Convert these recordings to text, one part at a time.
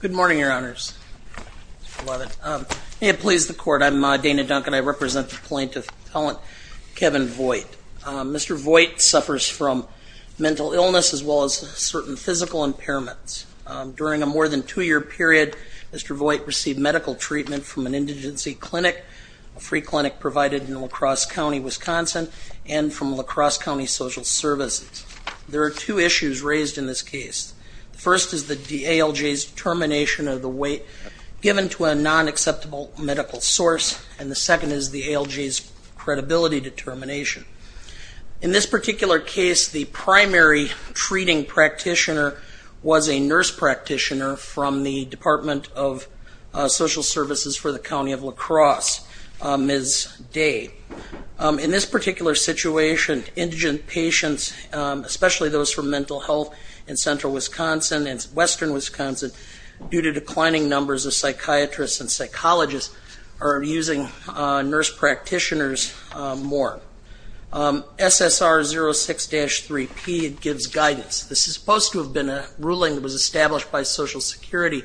Good morning, Your Honors. May it please the Court, I'm Dana Duncan. I represent the plaintiff's office. During a more than two year period, Mr. Voigt received medical treatment from an indigency clinic, a free clinic provided in La Crosse County, Wisconsin, and from La Crosse County Social Services. There are two issues raised in this case. The first is the ALJ's termination of the weight given to a non-acceptable medical source, and the second is the ALJ's credibility determination. In this particular case, the primary treating practitioner was a nurse practitioner from the Department of Social Services for the County of La Crosse, Ms. Day. In this particular situation, indigent patients, especially those from mental health in central Wisconsin and western Wisconsin, due to declining numbers of psychiatrists and psychologists, are using nurse practitioners more. SSR06-3P gives guidance. This is supposed to have been a ruling that was established by Social Security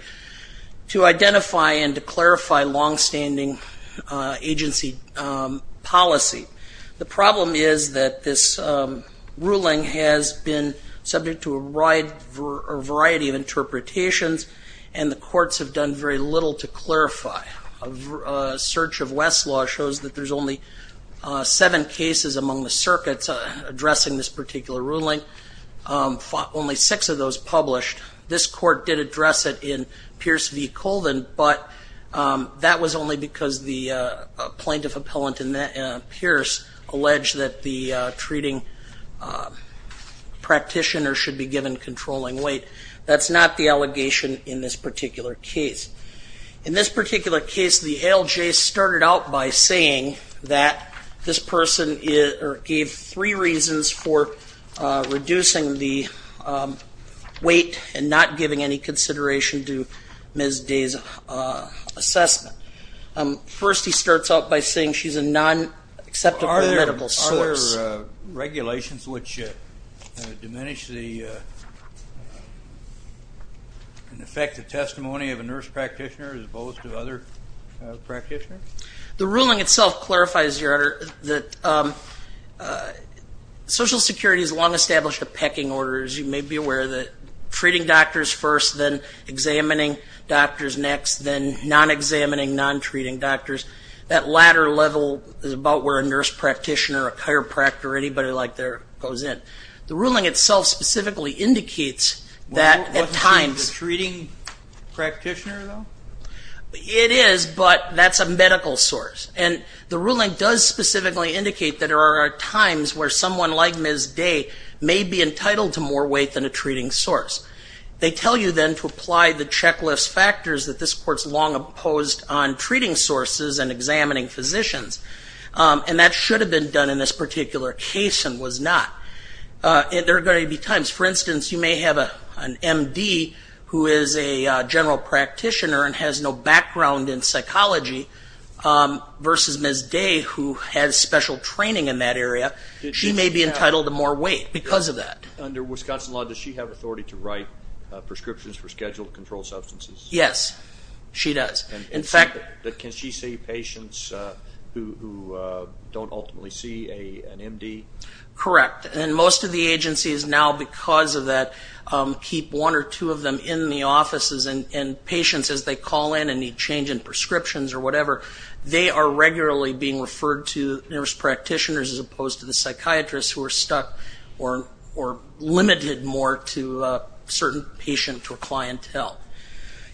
to identify and to clarify longstanding agency policy. The problem is that this ruling has been subject to a variety of interpretations and the courts have done very little to clarify. A search of Westlaw shows that there's only seven cases among the circuits addressing this particular ruling, only six of those published. This court did address it in Pierce v. Colvin, but that was only because the plaintiff appellant in Pierce alleged that the treating practitioner should be given controlling weight. That's not the allegation in this particular case. In this particular case, the ALJ started out by saying that this person gave three reasons for reducing the weight and not giving any consideration to Ms. Day's assessment. First, he starts out by saying she's a non-acceptable medical source. The ruling itself clarifies that Social Security has long established a pecking order. As you may be aware, treating doctors first, then examining doctors next, then non-examining, non-treating doctors. That latter level is about where a nurse practitioner, a chiropractor, or anybody like that goes in. The ruling itself specifically indicates that at times- Wasn't she the treating practitioner, though? It is, but that's a medical source. The ruling does specifically indicate that there are times where someone like Ms. Day may be entitled to more weight than a treating source. They tell you then to apply the checklist factors that this Court has long opposed on treating sources and examining physicians. That should have been done in this particular case and was not. There are going to be times, for instance, you may have an MD who is a general practitioner and has no background in psychology versus Ms. Day who has special training in that area. She may be entitled to more weight because of that. Under Wisconsin law, does she have authority to write prescriptions for scheduled controlled substances? Yes, she does. In fact- Can she see patients who don't ultimately see an MD? Correct. Most of the agencies now, because of that, keep one or two of them in the offices and patients, as they call in and need change in prescriptions or whatever, they are regularly being referred to nurse practitioners as opposed to the psychiatrists who are stuck or limited more to a certain patient or clientele.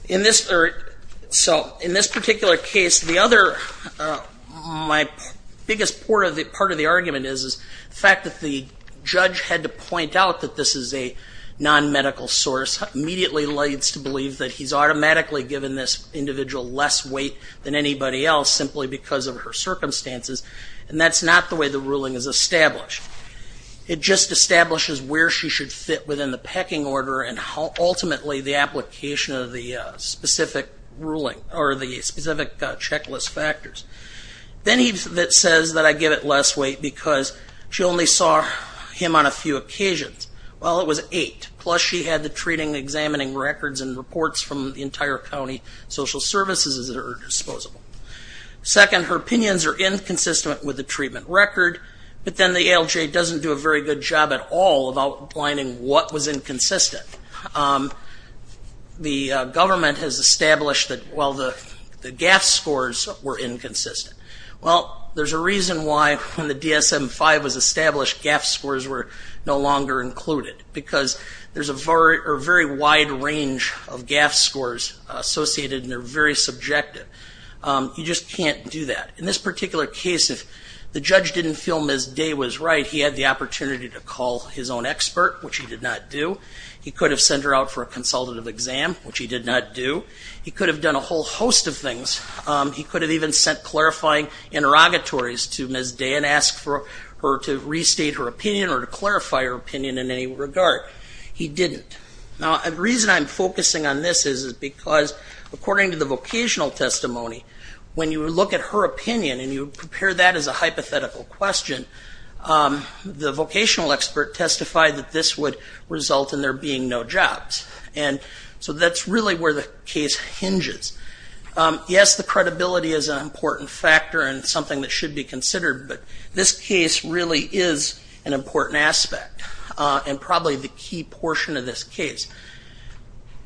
In this particular case, my biggest part of the argument is the fact that the judge had to point out that this is a non-medical source immediately leads to believe that he's automatically given this individual less weight than anybody else simply because of her circumstances. That's not the way the ruling is established. It just establishes where she should fit within the pecking order and ultimately the application of the specific checklist factors. Then he says that I give it less weight because she only saw him on a few occasions. Well, it was eight, plus she had the treating and examining records and reports from the entire county social services that are disposable. Second, her opinions are inconsistent with the treatment record, but then the ALJ doesn't do a very good job at all of outlining what was inconsistent. The government has established that the GAF scores were inconsistent. Well, there's a reason why when the DSM-5 was established GAF scores were no longer included because there's a very wide range of GAF scores associated and they're very subjective. You just can't do that. In this particular case, if the judge didn't feel Ms. Day was right, he had the opportunity to call his own expert, which he did not do. He could have sent her out for a consultative exam, which he did not do. He could have done a whole host of things. He could have even sent clarifying interrogatories to Ms. Day and asked for her to restate her opinion or to clarify her opinion in any regard. He didn't. Now, the reason I'm focusing on this is because according to the vocational testimony, when you look at her opinion and you prepare that as a hypothetical question, the vocational expert testified that this would result in there being no jobs. And so that's really where the case hinges. Yes, the credibility is an important factor and something that should be considered, but this case really is an important aspect and probably the key portion of this case.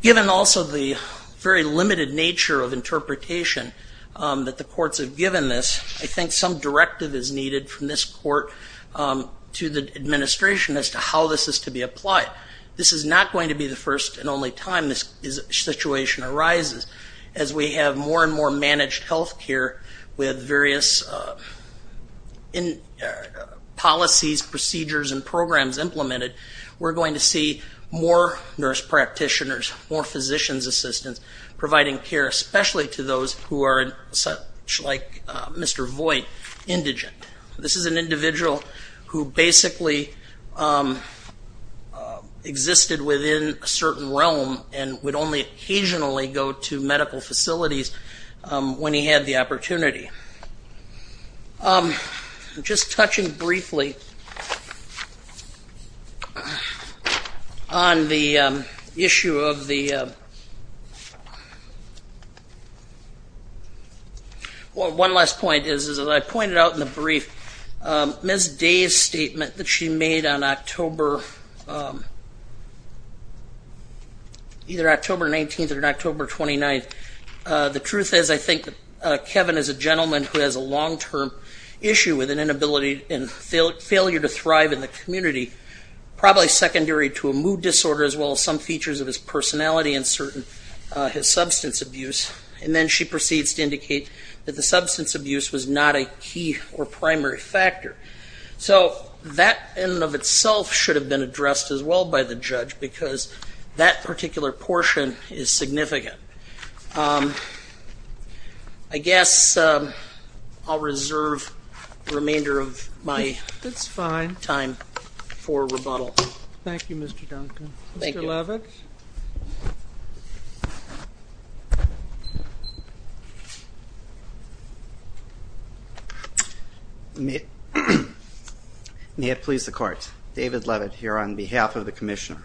Given also the very limited nature of interpretation that the courts have given this, I think some directive is needed from this court to the administration as to how this is to be applied. This is not going to be the first and only time this situation arises. As we have more and more managed health care with various policies, procedures and programs implemented, we're going to see more nurse practitioners, more physician's assistants providing care, especially to those who are such like Mr. Voigt, indigent. This is an individual who basically existed within a certain realm and would only occasionally go to medical facilities when he had the opportunity. Just touching briefly on the issue of the... statement that she made on either October 19th or October 29th, the truth is I think Kevin is a gentleman who has a long-term issue with an inability and failure to thrive in the community, probably secondary to a mood disorder as well as some features of his personality and certain substance abuse. And then she proceeds to indicate that the substance abuse was not a key or primary factor. So that in and of itself should have been addressed as well by the judge because that particular portion is significant. I guess I'll reserve the remainder of my time for rebuttal. Thank you, Mr. Duncan. May it please the court. David Levitt here on behalf of the Commissioner.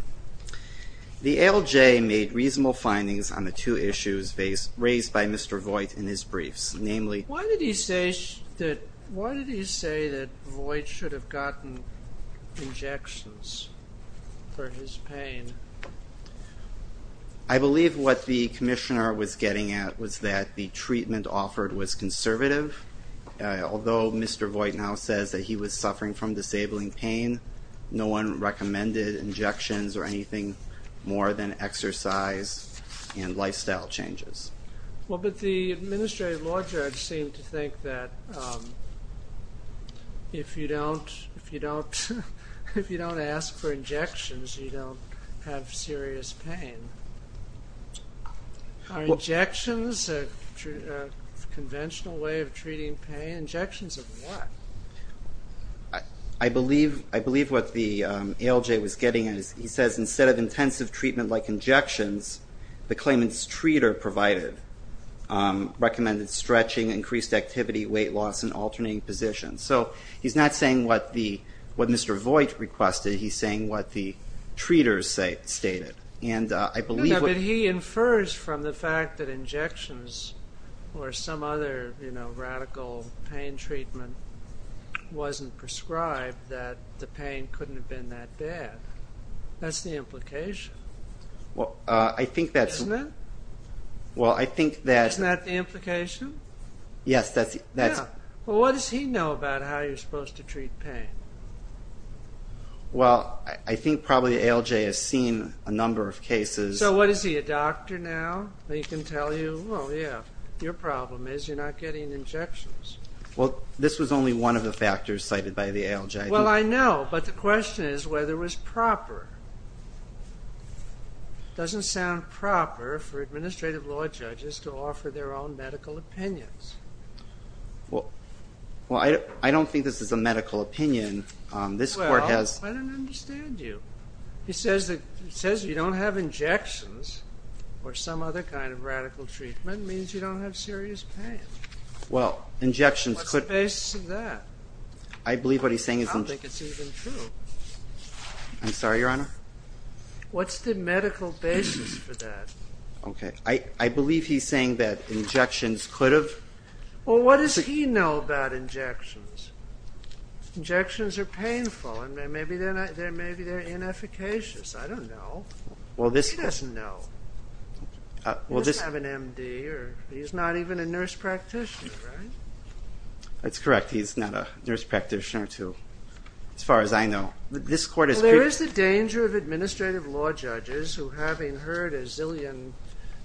The ALJ made reasonable findings on the two issues raised by Mr. Voigt in his briefs, namely... Why did he say that Voigt should have gotten injections for his pain? I believe what the Commissioner was getting at was that the treatment offered was conservative. Although Mr. Voigt now says that he was suffering from disabling pain, no one recommended injections or anything more than exercise and lifestyle changes. Well, but the administrative law judge seemed to think that if you don't ask for injections you don't have serious pain. Are injections a conventional way of treating pain? Injections of what? I believe what the ALJ was getting at is he says instead of intensive treatment like injections, the claimant's treater provided, recommended stretching, increased activity, weight loss, and alternating positions. So he's not saying what Mr. Voigt requested. He's saying what the treaters stated. But he infers from the fact that injections or some other radical pain treatment wasn't prescribed that the pain couldn't have been that bad. That's the implication. Isn't it? Isn't that the implication? Yes. What does he know about how you're supposed to treat pain? Well, I think probably the ALJ has seen a number of cases. So what is he, a doctor now? He can tell you, well, yeah, your problem is you're not getting injections. Well, this was only one of the factors cited by the ALJ. Well, I know, but the question is whether it was proper. It doesn't sound proper for administrative law judges to offer their own medical opinions. Well, I don't think this is a medical opinion. This Court has... Well, I don't understand you. He says you don't have injections or some other kind of radical treatment means you don't have serious pain. What's the basis of that? I believe what he's saying is... I don't think it's even true. I'm sorry, Your Honor? What's the medical basis for that? Okay. I believe he's saying that injections could have... Well, what does he know about injections? Injections are painful and maybe they're inefficacious. I don't know. He doesn't know. He doesn't have an MD. He's not even a nurse practitioner, right? That's correct. He's not a nurse practitioner, too, as far as I know. There is the danger of administrative law judges who, having heard a zillion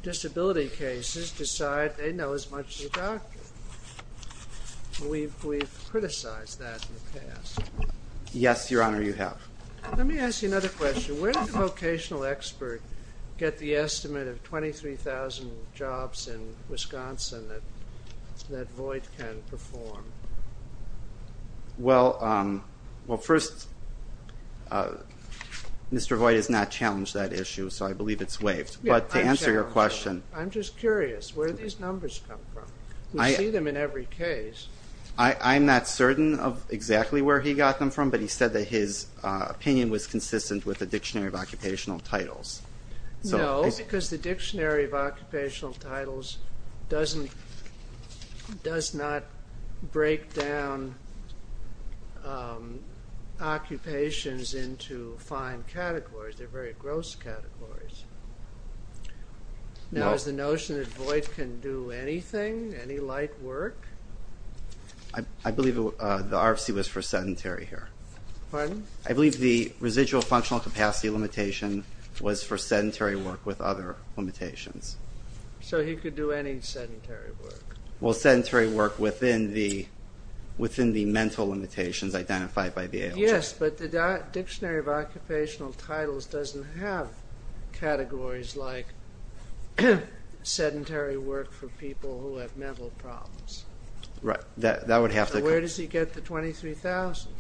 disability cases, decide they know as much as a doctor. We've criticized that in the past. Yes, Your Honor, you have. Let me ask you another question. Where did the vocational expert get the estimate of 23,000 jobs in Wisconsin that Voight can perform? Well, first, Mr. Voight has not challenged that issue, so I believe it's waived. But to answer your question... I'm just curious. Where did these numbers come from? We see them in every case. I'm not certain of exactly where he got them from, but he said that his opinion was consistent with the Dictionary of Occupational Titles. No, because the Dictionary of Occupational Titles does not break down occupations into fine categories. They're very gross categories. No. Now, is the notion that Voight can do anything, any light work? I believe the RFC was for sedentary here. Pardon? I believe the RFC limitation was for sedentary work with other limitations. So he could do any sedentary work? Well, sedentary work within the mental limitations identified by the ALJ. Yes, but the Dictionary of Occupational Titles doesn't have categories like sedentary work for people who have mental problems. Right, that would have to... So where does he get the 23,000?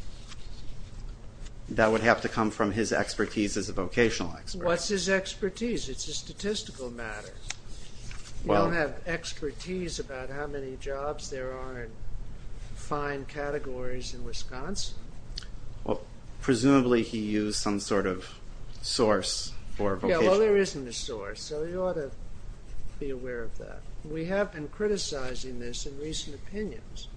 That would have to come from his expertise as a vocational expert. What's his expertise? It's a statistical matter. You don't have expertise about how many jobs there are in fine categories in Wisconsin. Well, presumably he used some sort of source for vocational... Yeah, well, there isn't a source, so you ought to be aware of that. We have been criticizing this in recent opinions,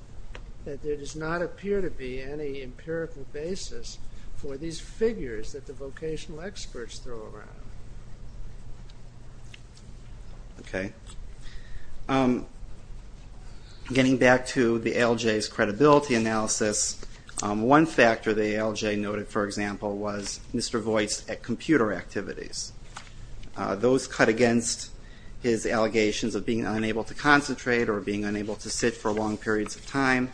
that there does not appear to be any empirical basis for these figures that the vocational experts throw around. Getting back to the ALJ's credibility analysis, one factor the ALJ noted, for example, was Mr. Voight's computer activities. Those cut against his allegations of being unable to concentrate or being unable to sit for long periods of time.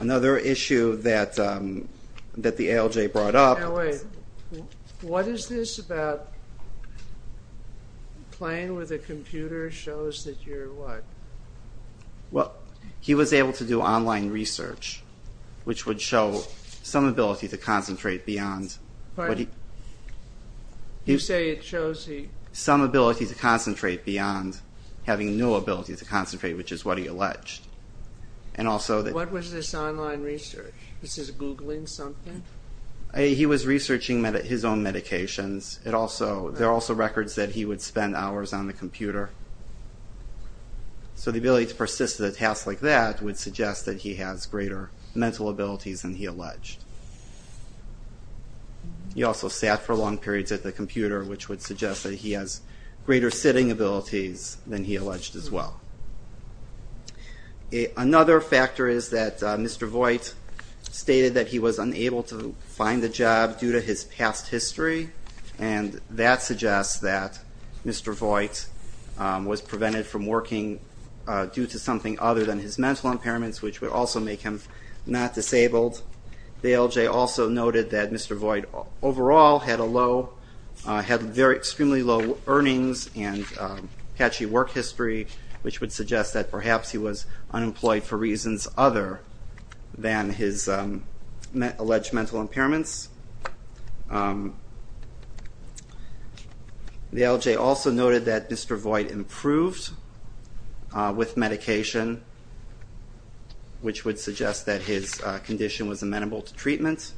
Another issue that the ALJ brought up... Now wait, what is this about playing with a computer shows that you're what? Well, he was able to do online research, which would show some ability to concentrate beyond... You say it shows he... Some ability to concentrate beyond having no ability to concentrate, which is what he alleged. And also... What was this online research? This is Googling something? He was researching his own medications. There are also records that he would spend hours on the computer. So the ability to persist in a task like that would suggest that he has greater mental abilities than he alleged. He also sat for long periods at the computer, which would suggest that he has greater sitting abilities than he alleged as well. Another factor is that Mr. Voight stated that he was unable to find a job due to his past history, and that suggests that Mr. Voight was prevented from working due to something other than his mental impairments, which would also make him not disabled. The LJ also noted that Mr. Voight overall had a low... Had very extremely low earnings and catchy work history, which would suggest that perhaps he was unemployed for reasons other than his alleged mental impairments. The LJ also noted that Mr. Voight improved with medication, which would suggest that his condition was amenable to treatment.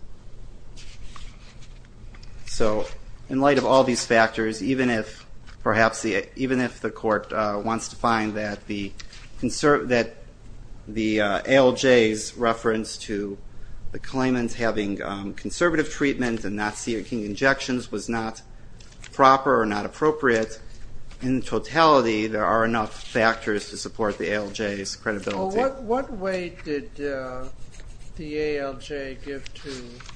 So in light of all these factors, even if the court wants to find that the LJ's reference to the claimant having conservative treatment and not seeking injections was not proper or not appropriate, in totality there are enough factors to support the ALJ's credibility. Well, what weight did the ALJ give to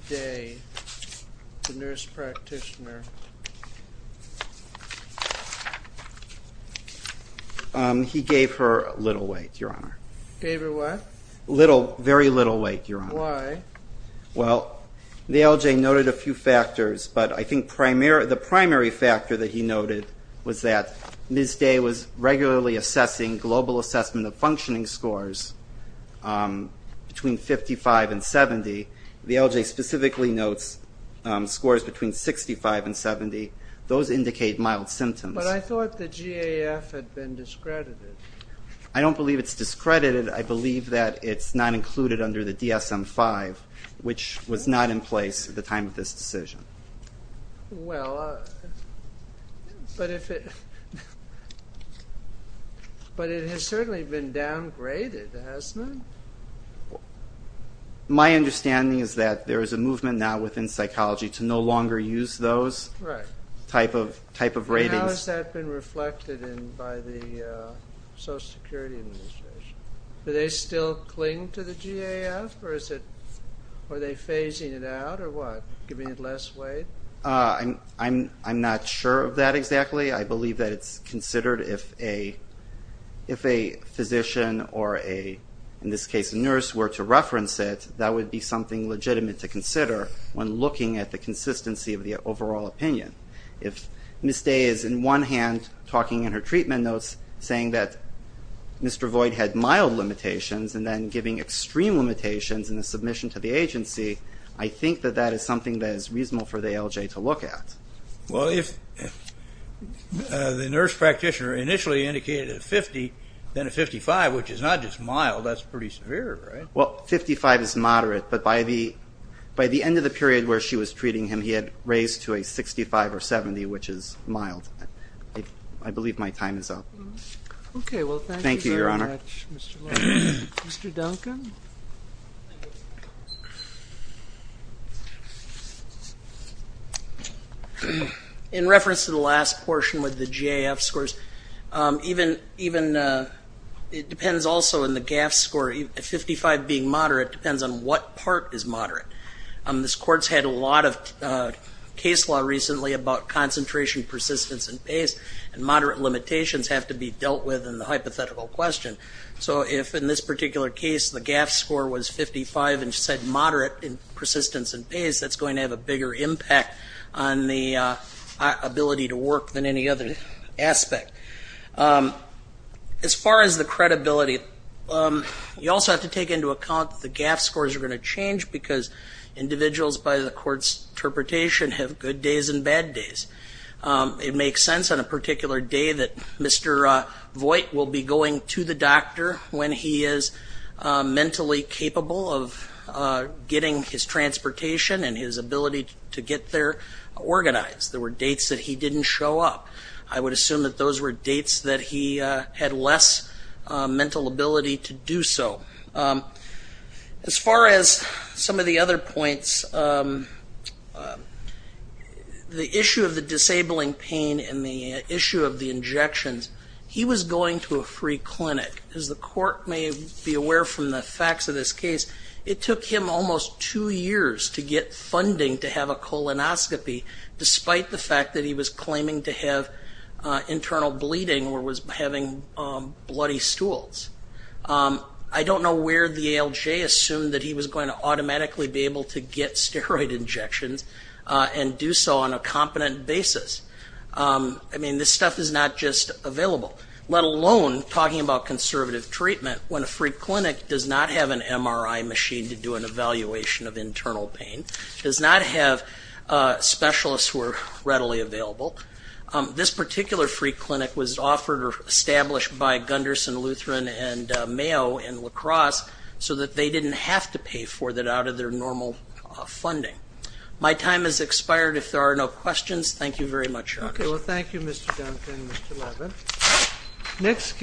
Day, the nurse practitioner? He gave her little weight, Your Honor. Gave her what? Very little weight, Your Honor. Why? Well, the LJ noted a few factors, but I think the primary factor that he noted was that Ms. Day was regularly assessing global assessment of functioning scores between 55 and 70. The LJ specifically notes scores between 65 and 70. Those indicate mild symptoms. But I thought the GAF had been discredited. I don't believe it's discredited. I believe that it's not included under the DSM-5, which was not in place at the time of this decision. Well, but if it... But it has certainly been downgraded, hasn't it? My understanding is that there is a movement now within psychology to no longer use those type of ratings. How has that been reflected by the Social Security Administration? Do they still cling to the GAF or are they phasing it out or what? Give me it last, Wade. I'm not sure of that exactly. I believe that it's considered if a physician or a, in this case, a nurse were to reference it, that would be something legitimate to consider when looking at the consistency of the overall opinion. If Ms. Day is, in one hand, talking in her treatment notes saying that Mr. Voight had mild limitations and then giving extreme limitations in the submission to the agency, I think that that is something that is reasonable for the ALJ to look at. Well, if the nurse practitioner initially indicated a 50, then a 55, which is not just mild, that's pretty severe, right? Well, 55 is moderate, but by the end of the period where she was treating him, he had raised to a 65 or 70, which is mild. I believe my time is up. Okay, well, thank you very much, Mr. Logan. Mr. Duncan? In reference to the last portion with the GAF scores, even, it depends also in the GAF score, a 55 being moderate depends on what part is moderate. This court's had a lot of case law recently about concentration, persistence, and pace, and moderate limitations have to be dealt with in the hypothetical question. So if, in this particular case, the GAF score was 55 and said moderate in persistence and pace, that's going to have a bigger impact on the ability to work than any other aspect. As far as the credibility, you also have to take into account that the GAF scores are going to change because individuals, by the court's interpretation, have good days and bad days. It makes sense on a particular day that Mr. Voigt will be going to the doctor when he is mentally capable of getting his transportation and his ability to get there organized. There were dates that he didn't show up. I would assume that those were dates that he had less mental ability to do so. As far as some of the other points, the issue of the disabling pain and the issue of the injections, he was going to a free clinic. As the court may be aware from the facts of this case, it took him almost two years to get funding to have a colonoscopy, despite the fact that he was claiming to have internal bleeding or was having bloody stools. I don't know where the ALJ assumed that he was going to automatically be able to get steroid injections and do so on a competent basis. I mean, this stuff is not just available. Let alone talking about conservative treatment when a free clinic does not have an MRI machine to do an evaluation of internal pain, does not have specialists who are readily available. This particular free clinic was offered or established by Gundersen Lutheran and Mayo and La Crosse so that they didn't have to pay for it out of their normal funding. My time has expired. If there are no questions, thank you very much, Your Honor. Thank you, Mr. Gundersen and Mr. Levin.